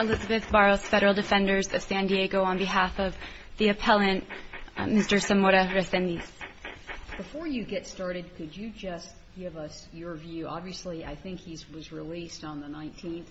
Elizabeth Barros, Federal Defenders of San Diego, on behalf of the appellant, Mr. Zamora-Resendiz. Before you get started, could you just give us your view? Obviously, I think he was released on the 19th.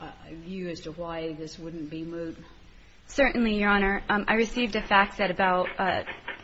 A view as to why this wouldn't be moved? Certainly, Your Honor. I received a fax at about,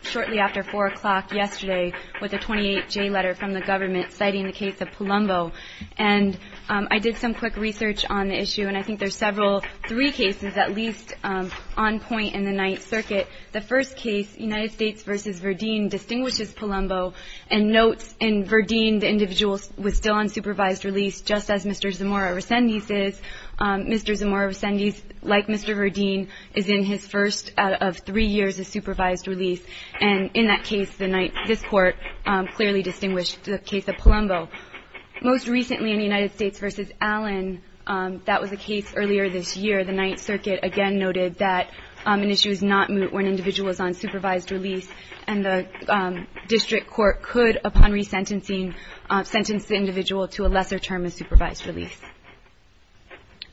shortly after 4 o'clock yesterday, with a 28-J letter from the government, citing the case of Palumbo. I did some quick research on the issue, and I think there are several, three cases, at least, on point in the Ninth Circuit. The first case, United States v. Verdeen, distinguishes Palumbo and notes in Verdeen the individual was still on supervised release, just as Mr. Zamora-Resendiz is. Mr. Zamora-Resendiz, like Mr. Verdeen, is in his first out of three years of supervised release. And in that case, this Court clearly distinguished the case of Palumbo. Most recently, in United States v. Allen, that was a case earlier this year. The Ninth Circuit again noted that an issue is not moved when an individual is on supervised release, and the district court could, upon resentencing, sentence the individual to a lesser term of supervised release.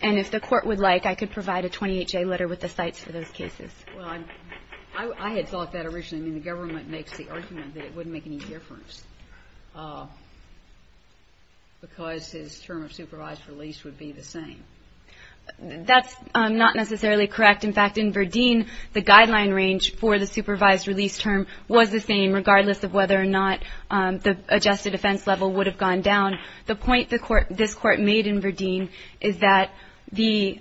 And if the Court would like, I could provide a 28-J letter with the cites for those cases. Well, I had thought that originally. I mean, the government makes the argument that it wouldn't make any difference because his term of supervised release would be the same. That's not necessarily correct. In fact, in Verdeen, the guideline range for the supervised release term was the same, regardless of whether or not the adjusted offense level would have gone down. The point this Court made in Verdeen is that the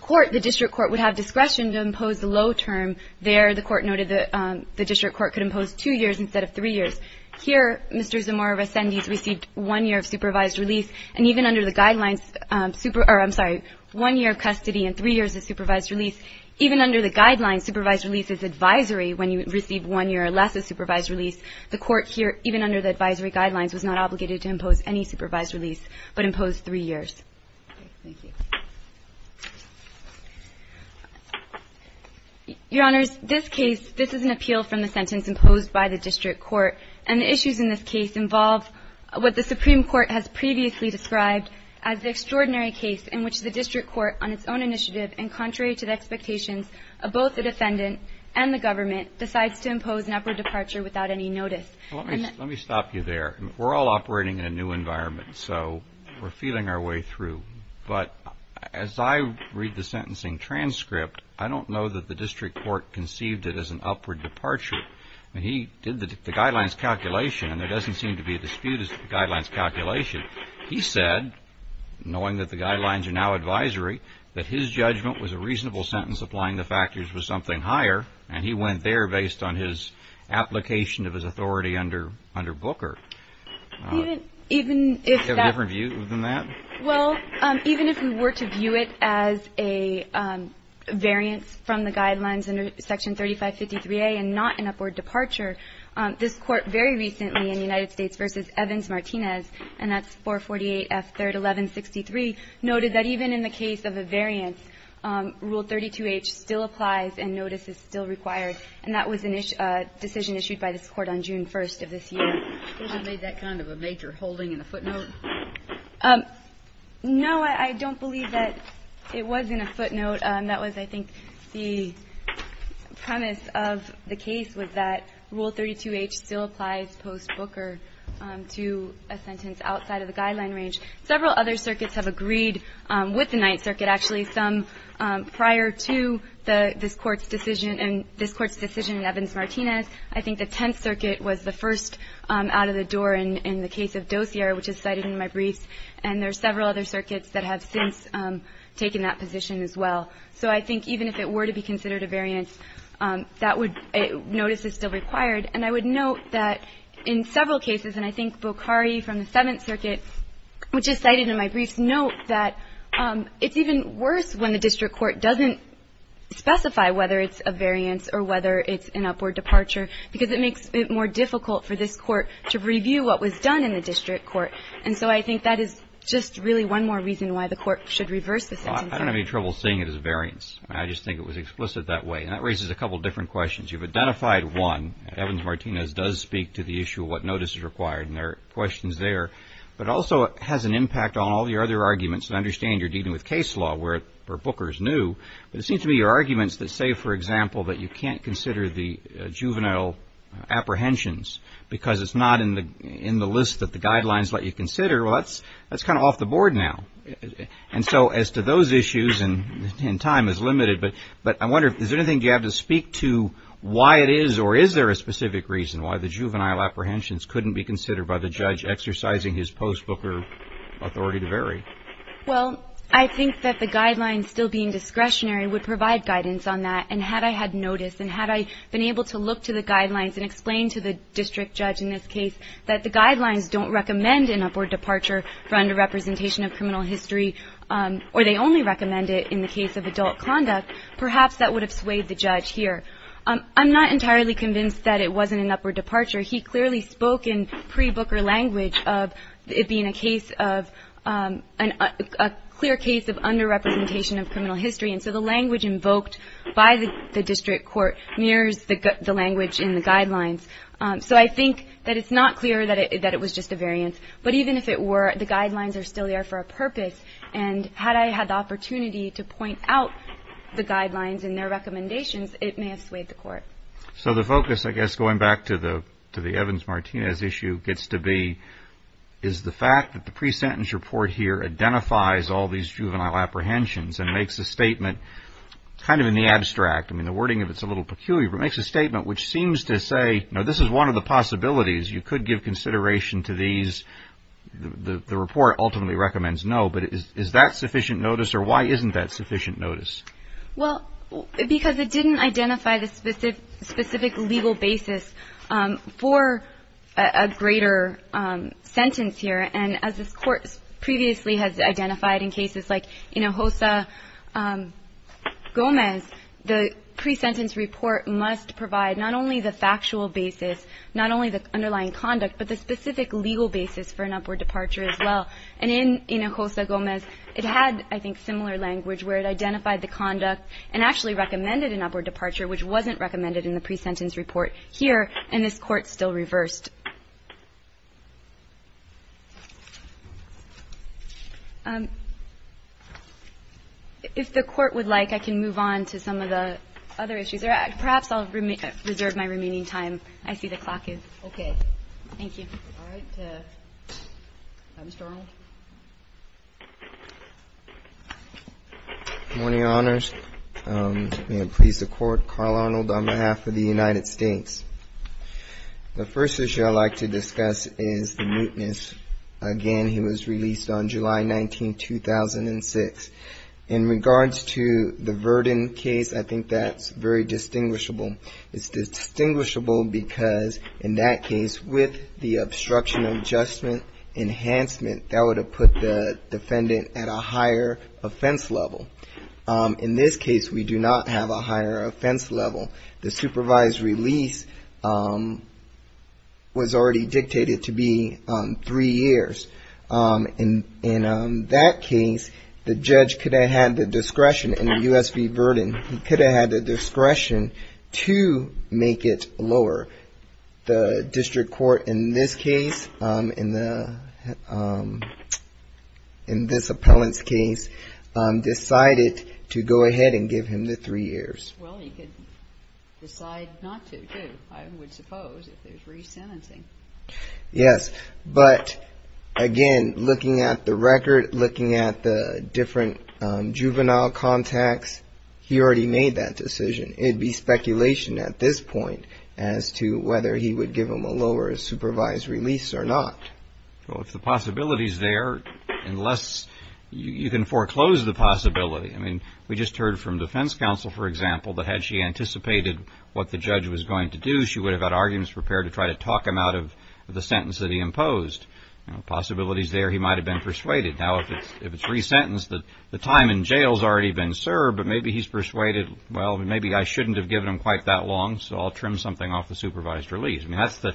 court, the district court, would have discretion to impose the low term. There, the Court noted that the district court could impose two years instead of three years. Here, Mr. Zamora-Resendiz received one year of supervised release. And even under the guidelines, I'm sorry, one year of custody and three years of supervised release, even under the guidelines, supervised release is advisory when you receive one year or less of supervised release. The Court here, even under the advisory guidelines, was not obligated to impose any supervised release but imposed three years. Thank you. Your Honors, this case, this is an appeal from the sentence imposed by the district court, and the issues in this case involve what the Supreme Court has previously described as the extraordinary case in which the district court, on its own initiative and contrary to the expectations of both the defendant and the government, decides to impose an upward departure without any notice. Let me stop you there. We're all operating in a new environment, so we're feeling our way through. But as I read the sentencing transcript, I don't know that the district court conceived it as an upward departure. When he did the guidelines calculation, and there doesn't seem to be a dispute as to the guidelines calculation, he said, knowing that the guidelines are now advisory, that his judgment was a reasonable sentence applying the factors was something higher, and he went there based on his application of his authority under Booker. Do you have a different view than that? Well, even if we were to view it as a variance from the guidelines under Section 3553A and not an upward departure, this Court very recently in the United States v. Evans-Martinez, and that's 448F 3rd 1163, noted that even in the case of a variance, Rule 32H still applies and notice is still required, and that was a decision issued by this Court on June 1st of this year. Was it made that kind of a major holding in the footnote? No, I don't believe that it was in a footnote. That was, I think, the premise of the case was that Rule 32H still applies post-Booker to a sentence outside of the guideline range. Several other circuits have agreed with the Ninth Circuit, actually, some prior to this Court's decision and this Court's decision in Evans-Martinez. I think the Tenth Circuit was the first out of the door in the case of Dozier, which is cited in my briefs, and there are several other circuits that have since taken that position as well. So I think even if it were to be considered a variance, notice is still required. And I would note that in several cases, and I think Bokhari from the Seventh Circuit, which is cited in my briefs, note that it's even worse when the district court doesn't specify whether it's a variance or whether it's an upward departure because it makes it more difficult for this court to review what was done in the district court. And so I think that is just really one more reason why the court should reverse the sentence. I don't have any trouble seeing it as a variance. I just think it was explicit that way. And that raises a couple different questions. You've identified one, Evans-Martinez does speak to the issue of what notice is but also has an impact on all the other arguments. And I understand you're dealing with case law where Booker is new. But it seems to me your arguments that say, for example, that you can't consider the juvenile apprehensions because it's not in the list that the guidelines let you consider, well, that's kind of off the board now. And so as to those issues, and time is limited, but I wonder, is there anything you have to speak to why it is or is there a specific reason why the juvenile apprehension is exercising his post-Booker authority to vary? Well, I think that the guidelines still being discretionary would provide guidance on that. And had I had notice and had I been able to look to the guidelines and explain to the district judge in this case that the guidelines don't recommend an upward departure for underrepresentation of criminal history, or they only recommend it in the case of adult conduct, perhaps that would have swayed the judge here. I'm not entirely convinced that it wasn't an upward departure. He clearly spoke in pre-Booker language of it being a case of a clear case of underrepresentation of criminal history. And so the language invoked by the district court mirrors the language in the guidelines. So I think that it's not clear that it was just a variance. But even if it were, the guidelines are still there for a purpose. And had I had the opportunity to point out the guidelines and their recommendations, it may have swayed the court. So the focus, I guess, going back to the Evans-Martinez issue gets to be is the fact that the pre-sentence report here identifies all these juvenile apprehensions and makes a statement kind of in the abstract. I mean, the wording of it is a little peculiar, but it makes a statement which seems to say, you know, this is one of the possibilities. You could give consideration to these. The report ultimately recommends no. But is that sufficient notice, or why isn't that sufficient notice? Well, because it didn't identify the specific legal basis for a greater sentence here. And as this Court previously has identified in cases like Hinojosa-Gomez, the pre-sentence report must provide not only the factual basis, not only the underlying conduct, but the specific legal basis for an upward departure as well. And in Hinojosa-Gomez, it had, I think, similar language where it identified the conduct and actually recommended an upward departure, which wasn't recommended in the pre-sentence report here, and this Court still reversed. If the Court would like, I can move on to some of the other issues. Or perhaps I'll reserve my remaining time. I see the clock is okay. Thank you. All right. Mr. Arnold. Good morning, Your Honors. May it please the Court, Carl Arnold on behalf of the United States. The first issue I'd like to discuss is the mootness. Again, he was released on July 19, 2006. In regards to the Verdin case, I think that's very distinguishable. It's distinguishable because in that case, with the obstruction of enhancement, that would have put the defendant at a higher offense level. In this case, we do not have a higher offense level. The supervised release was already dictated to be three years. In that case, the judge could have had the discretion in the U.S. v. Verdin. He could have had the discretion to make it lower. The district court in this case, in this appellant's case, decided to go ahead and give him the three years. Well, he could decide not to, too, I would suppose, if there's re-sentencing. Yes. But, again, looking at the record, looking at the different juvenile contacts, he already made that decision. It'd be speculation at this point as to whether he would give him a lower supervised release or not. Well, if the possibility's there, unless you can foreclose the possibility. I mean, we just heard from defense counsel, for example, that had she anticipated what the judge was going to do, she would have had arguments prepared to try to talk him out of the sentence that he imposed. Possibility's there. He might have been persuaded. Now, if it's re-sentenced, the time in jail's already been served, but maybe he's persuaded, well, maybe I shouldn't have given him quite that long, so I'll trim something off the supervised release. I mean,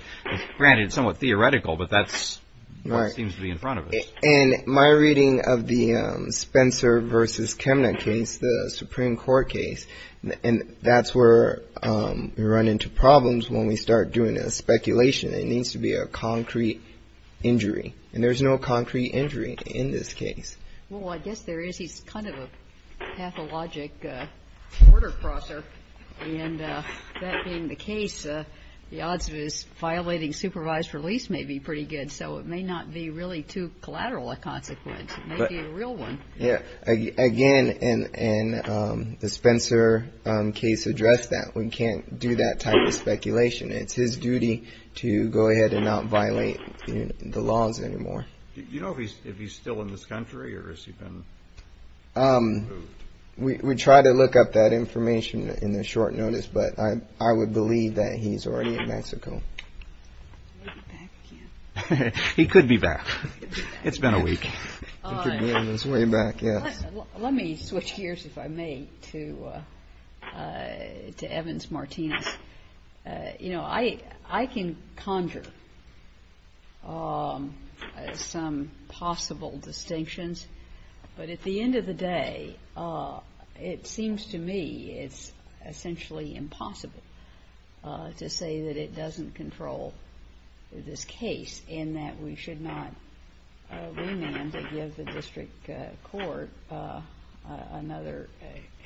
granted, it's somewhat theoretical, but that's what seems to be in front of us. And my reading of the Spencer v. Chemnitz case, the Supreme Court case, and that's where we run into problems when we start doing a speculation. It needs to be a concrete injury, and there's no concrete injury in this case. Well, I guess there is. He's kind of a pathologic border crosser. And that being the case, the odds of his violating supervised release may be pretty good, so it may not be really too collateral a consequence. It may be a real one. Yeah. Again, and the Spencer case addressed that. We can't do that type of speculation. It's his duty to go ahead and not violate the laws anymore. Do you know if he's still in this country, or has he been removed? We try to look up that information in the short notice, but I would believe that he's already in Mexico. He could be back. It's been a week. He could be on his way back, yes. Let me switch gears, if I may, to Evans-Martinez. You know, I can conjure some possible distinctions, but at the end of the day it seems to me it's essentially impossible to say that it doesn't control this case in that we should not remand it, give the district court another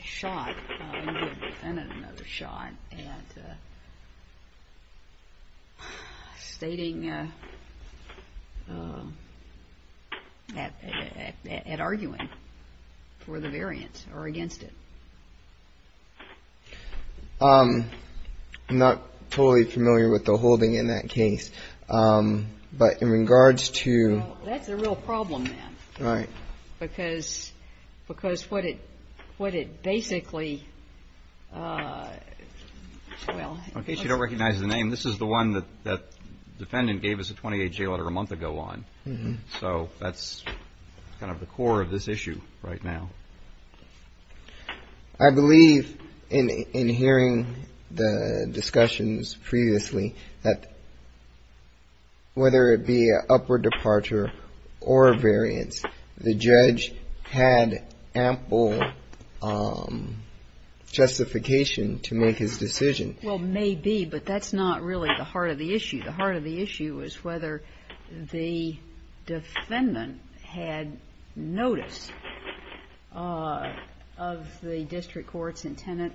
shot, and give the Senate another shot at stating, at arguing for the variance or against it. I'm not totally familiar with the holding in that case, but in regards to Well, that's a real problem, then. Right. Because what it basically, well In case you don't recognize the name, this is the one that the defendant gave us a 28-J letter a month ago on. So that's kind of the core of this issue right now. I believe in hearing the discussions previously that whether it be an upward departure or a variance, the judge had ample justification to make his decision. Well, maybe, but that's not really the heart of the issue. The heart of the issue is whether the defendant had notice of the district court's intent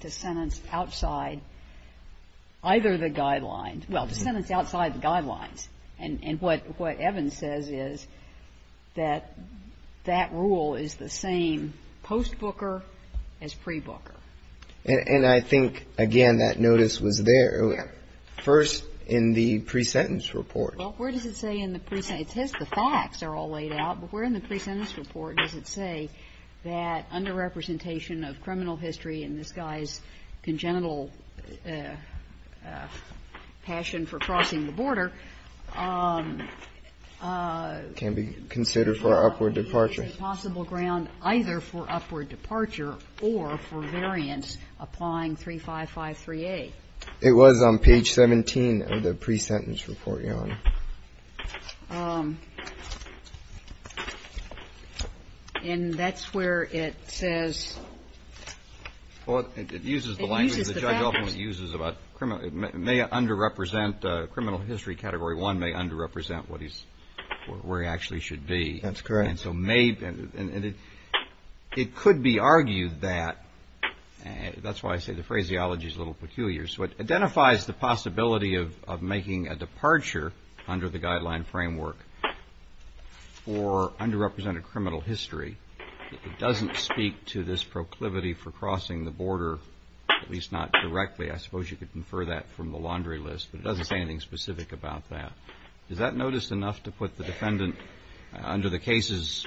to sentence outside either the guidelines Well, to sentence outside the guidelines. And what Evans says is that that rule is the same post-Booker as pre-Booker. And I think, again, that notice was there. First, in the pre-sentence report. Well, where does it say in the pre-sentence? It says the facts are all laid out. But where in the pre-sentence report does it say that underrepresentation of criminal history in this guy's congenital passion for crossing the border Can be considered for upward departure. Is possible ground either for upward departure or for variance applying 3553A. It was on page 17 of the pre-sentence report, Your Honor. And that's where it says. Well, it uses the language the judge ultimately uses about criminal. It may underrepresent criminal history. Category one may underrepresent what he's where he actually should be. That's correct. And it could be argued that that's why I say the phraseology is a little peculiar. So it identifies the possibility of making a departure under the guideline framework for underrepresented criminal history. It doesn't speak to this proclivity for crossing the border, at least not directly. I suppose you could infer that from the laundry list. But it doesn't say anything specific about that. Does that notice enough to put the defendant under the cases,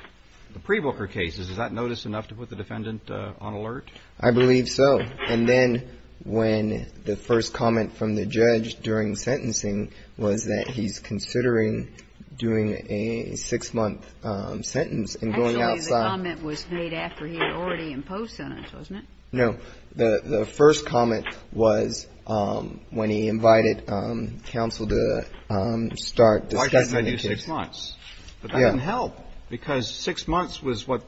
the pre-Booker cases, does that notice enough to put the defendant on alert? I believe so. And then when the first comment from the judge during sentencing was that he's considering doing a six-month sentence and going outside. Actually the comment was made after he had already imposed sentence, wasn't it? No. So the first comment was when he invited counsel to start discussing the case. Why shouldn't I do six months? But that didn't help because six months was what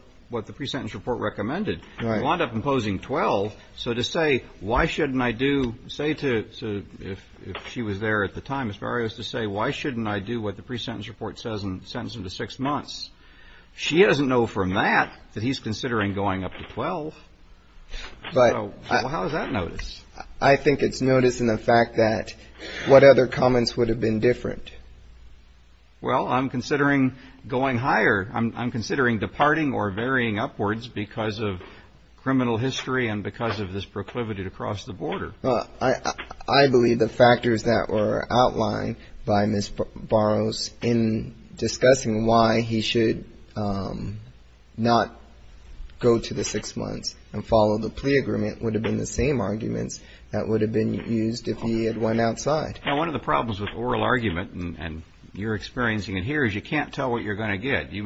the pre-sentence report recommended. Right. He wound up imposing 12. So to say why shouldn't I do, say to, if she was there at the time, as far as to say why shouldn't I do what the pre-sentence report says and sentence him to six months. She doesn't know from that that he's considering going up to 12. So how is that notice? I think it's notice in the fact that what other comments would have been different? Well, I'm considering going higher. I'm considering departing or varying upwards because of criminal history and because of this proclivity to cross the border. I believe the factors that were outlined by Ms. Boros in discussing why he should not go to the six months and follow the plea agreement would have been the same arguments that would have been used if he had went outside. Now, one of the problems with oral argument, and you're experiencing it here, is you can't tell what you're going to get. You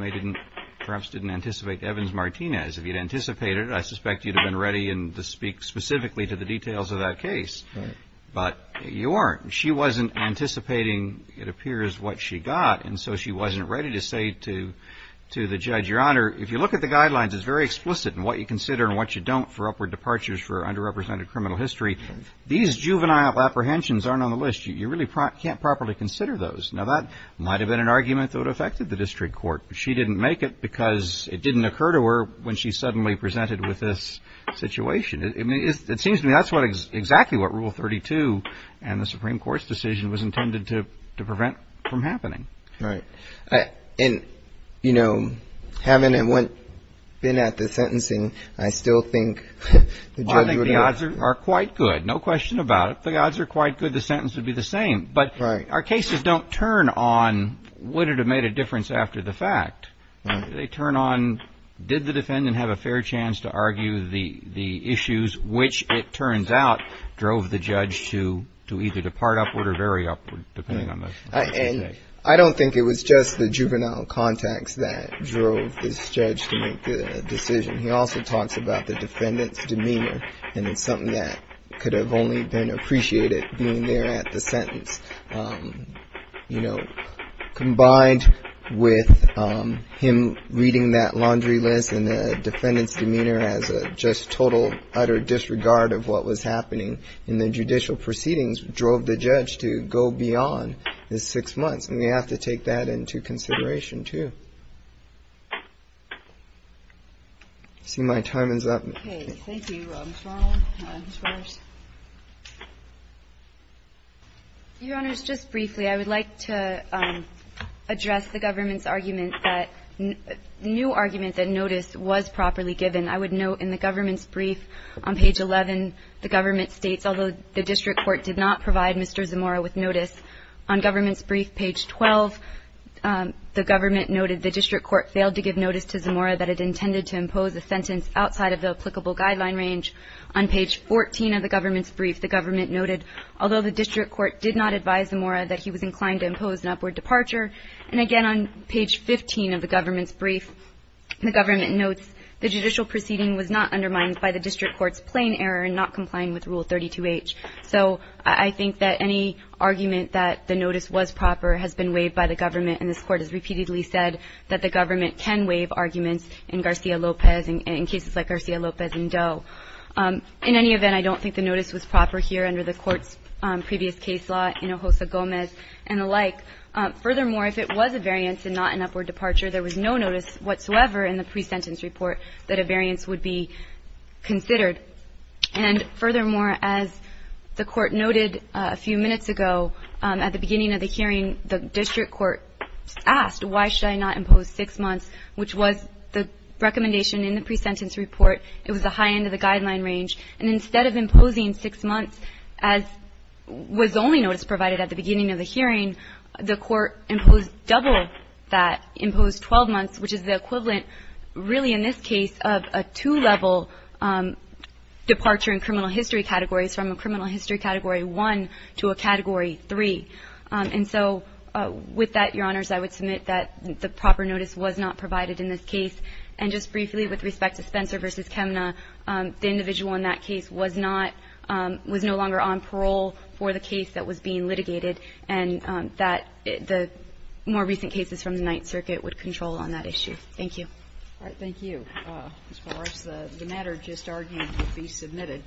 perhaps didn't anticipate Evans-Martinez. If you'd anticipated it, I suspect you'd have been ready to speak specifically to the details of that case. Right. But you weren't. She wasn't anticipating, it appears, what she got, and so she wasn't ready to say to the judge, Your Honor, if you look at the guidelines, it's very explicit in what you consider and what you don't for upward departures for underrepresented criminal history. These juvenile apprehensions aren't on the list. You really can't properly consider those. Now, that might have been an argument that would have affected the district court. She didn't make it because it didn't occur to her when she suddenly presented with this situation. It seems to me that's exactly what Rule 32 and the Supreme Court's decision was intended to prevent from happening. Right. And, you know, having been at the sentencing, I still think the judge would have ---- I think the odds are quite good. No question about it. If the odds are quite good, the sentence would be the same. But our cases don't turn on would it have made a difference after the fact. They turn on did the defendant have a fair chance to argue the issues, which it turns out drove the judge to either depart upward or vary upward, depending on the case. And I don't think it was just the juvenile contacts that drove this judge to make the decision. He also talks about the defendant's demeanor. And it's something that could have only been appreciated being there at the sentence. You know, combined with him reading that laundry list and the defendant's demeanor as a just total utter disregard of what was happening in the judicial proceedings drove the judge to go beyond his six months. And we have to take that into consideration, too. I see my time is up. Okay. Thank you, Mr. Arnold. Ms. Roers. Your Honors, just briefly, I would like to address the government's argument that the new argument that noticed was properly given. I would note in the government's brief on page 11, the government states, although the district court did not provide Mr. Zamora with notice. On government's brief, page 12, the government noted the district court failed to give notice to Zamora that it intended to impose a sentence outside of the applicable guideline range. On page 14 of the government's brief, the government noted, although the district court did not advise Zamora that he was inclined to impose an upward departure. And, again, on page 15 of the government's brief, the government notes, the judicial proceeding was not undermined by the district court's plain error in not complying with Rule 32H. So I think that any argument that the notice was proper has been waived by the government, and this Court has repeatedly said that the government can waive arguments in Garcia-Lopez and in cases like Garcia-Lopez and Doe. In any event, I don't think the notice was proper here under the Court's previous case law, Hinojosa-Gomez and the like. Furthermore, if it was a variance and not an upward departure, there was no notice whatsoever in the pre-sentence report that a variance would be considered. And, furthermore, as the Court noted a few minutes ago, at the beginning of the hearing, the district court asked, why should I not impose 6 months, which was the recommendation in the pre-sentence report. It was the high end of the guideline range. And instead of imposing 6 months as was only notice provided at the beginning of the hearing, the Court imposed double that, imposed 12 months, which is the equivalent really in this case of a two-level departure in criminal history categories from a criminal history Category 1 to a Category 3. And so with that, Your Honors, I would submit that the proper notice was not provided in this case. And just briefly with respect to Spencer v. Chemna, the individual in that case was not, was no longer on parole for the case that was being litigated and that the more recent cases from the Ninth Circuit would control on that issue. Thank you. All right. Thank you. As far as the matter just argued to be submitted.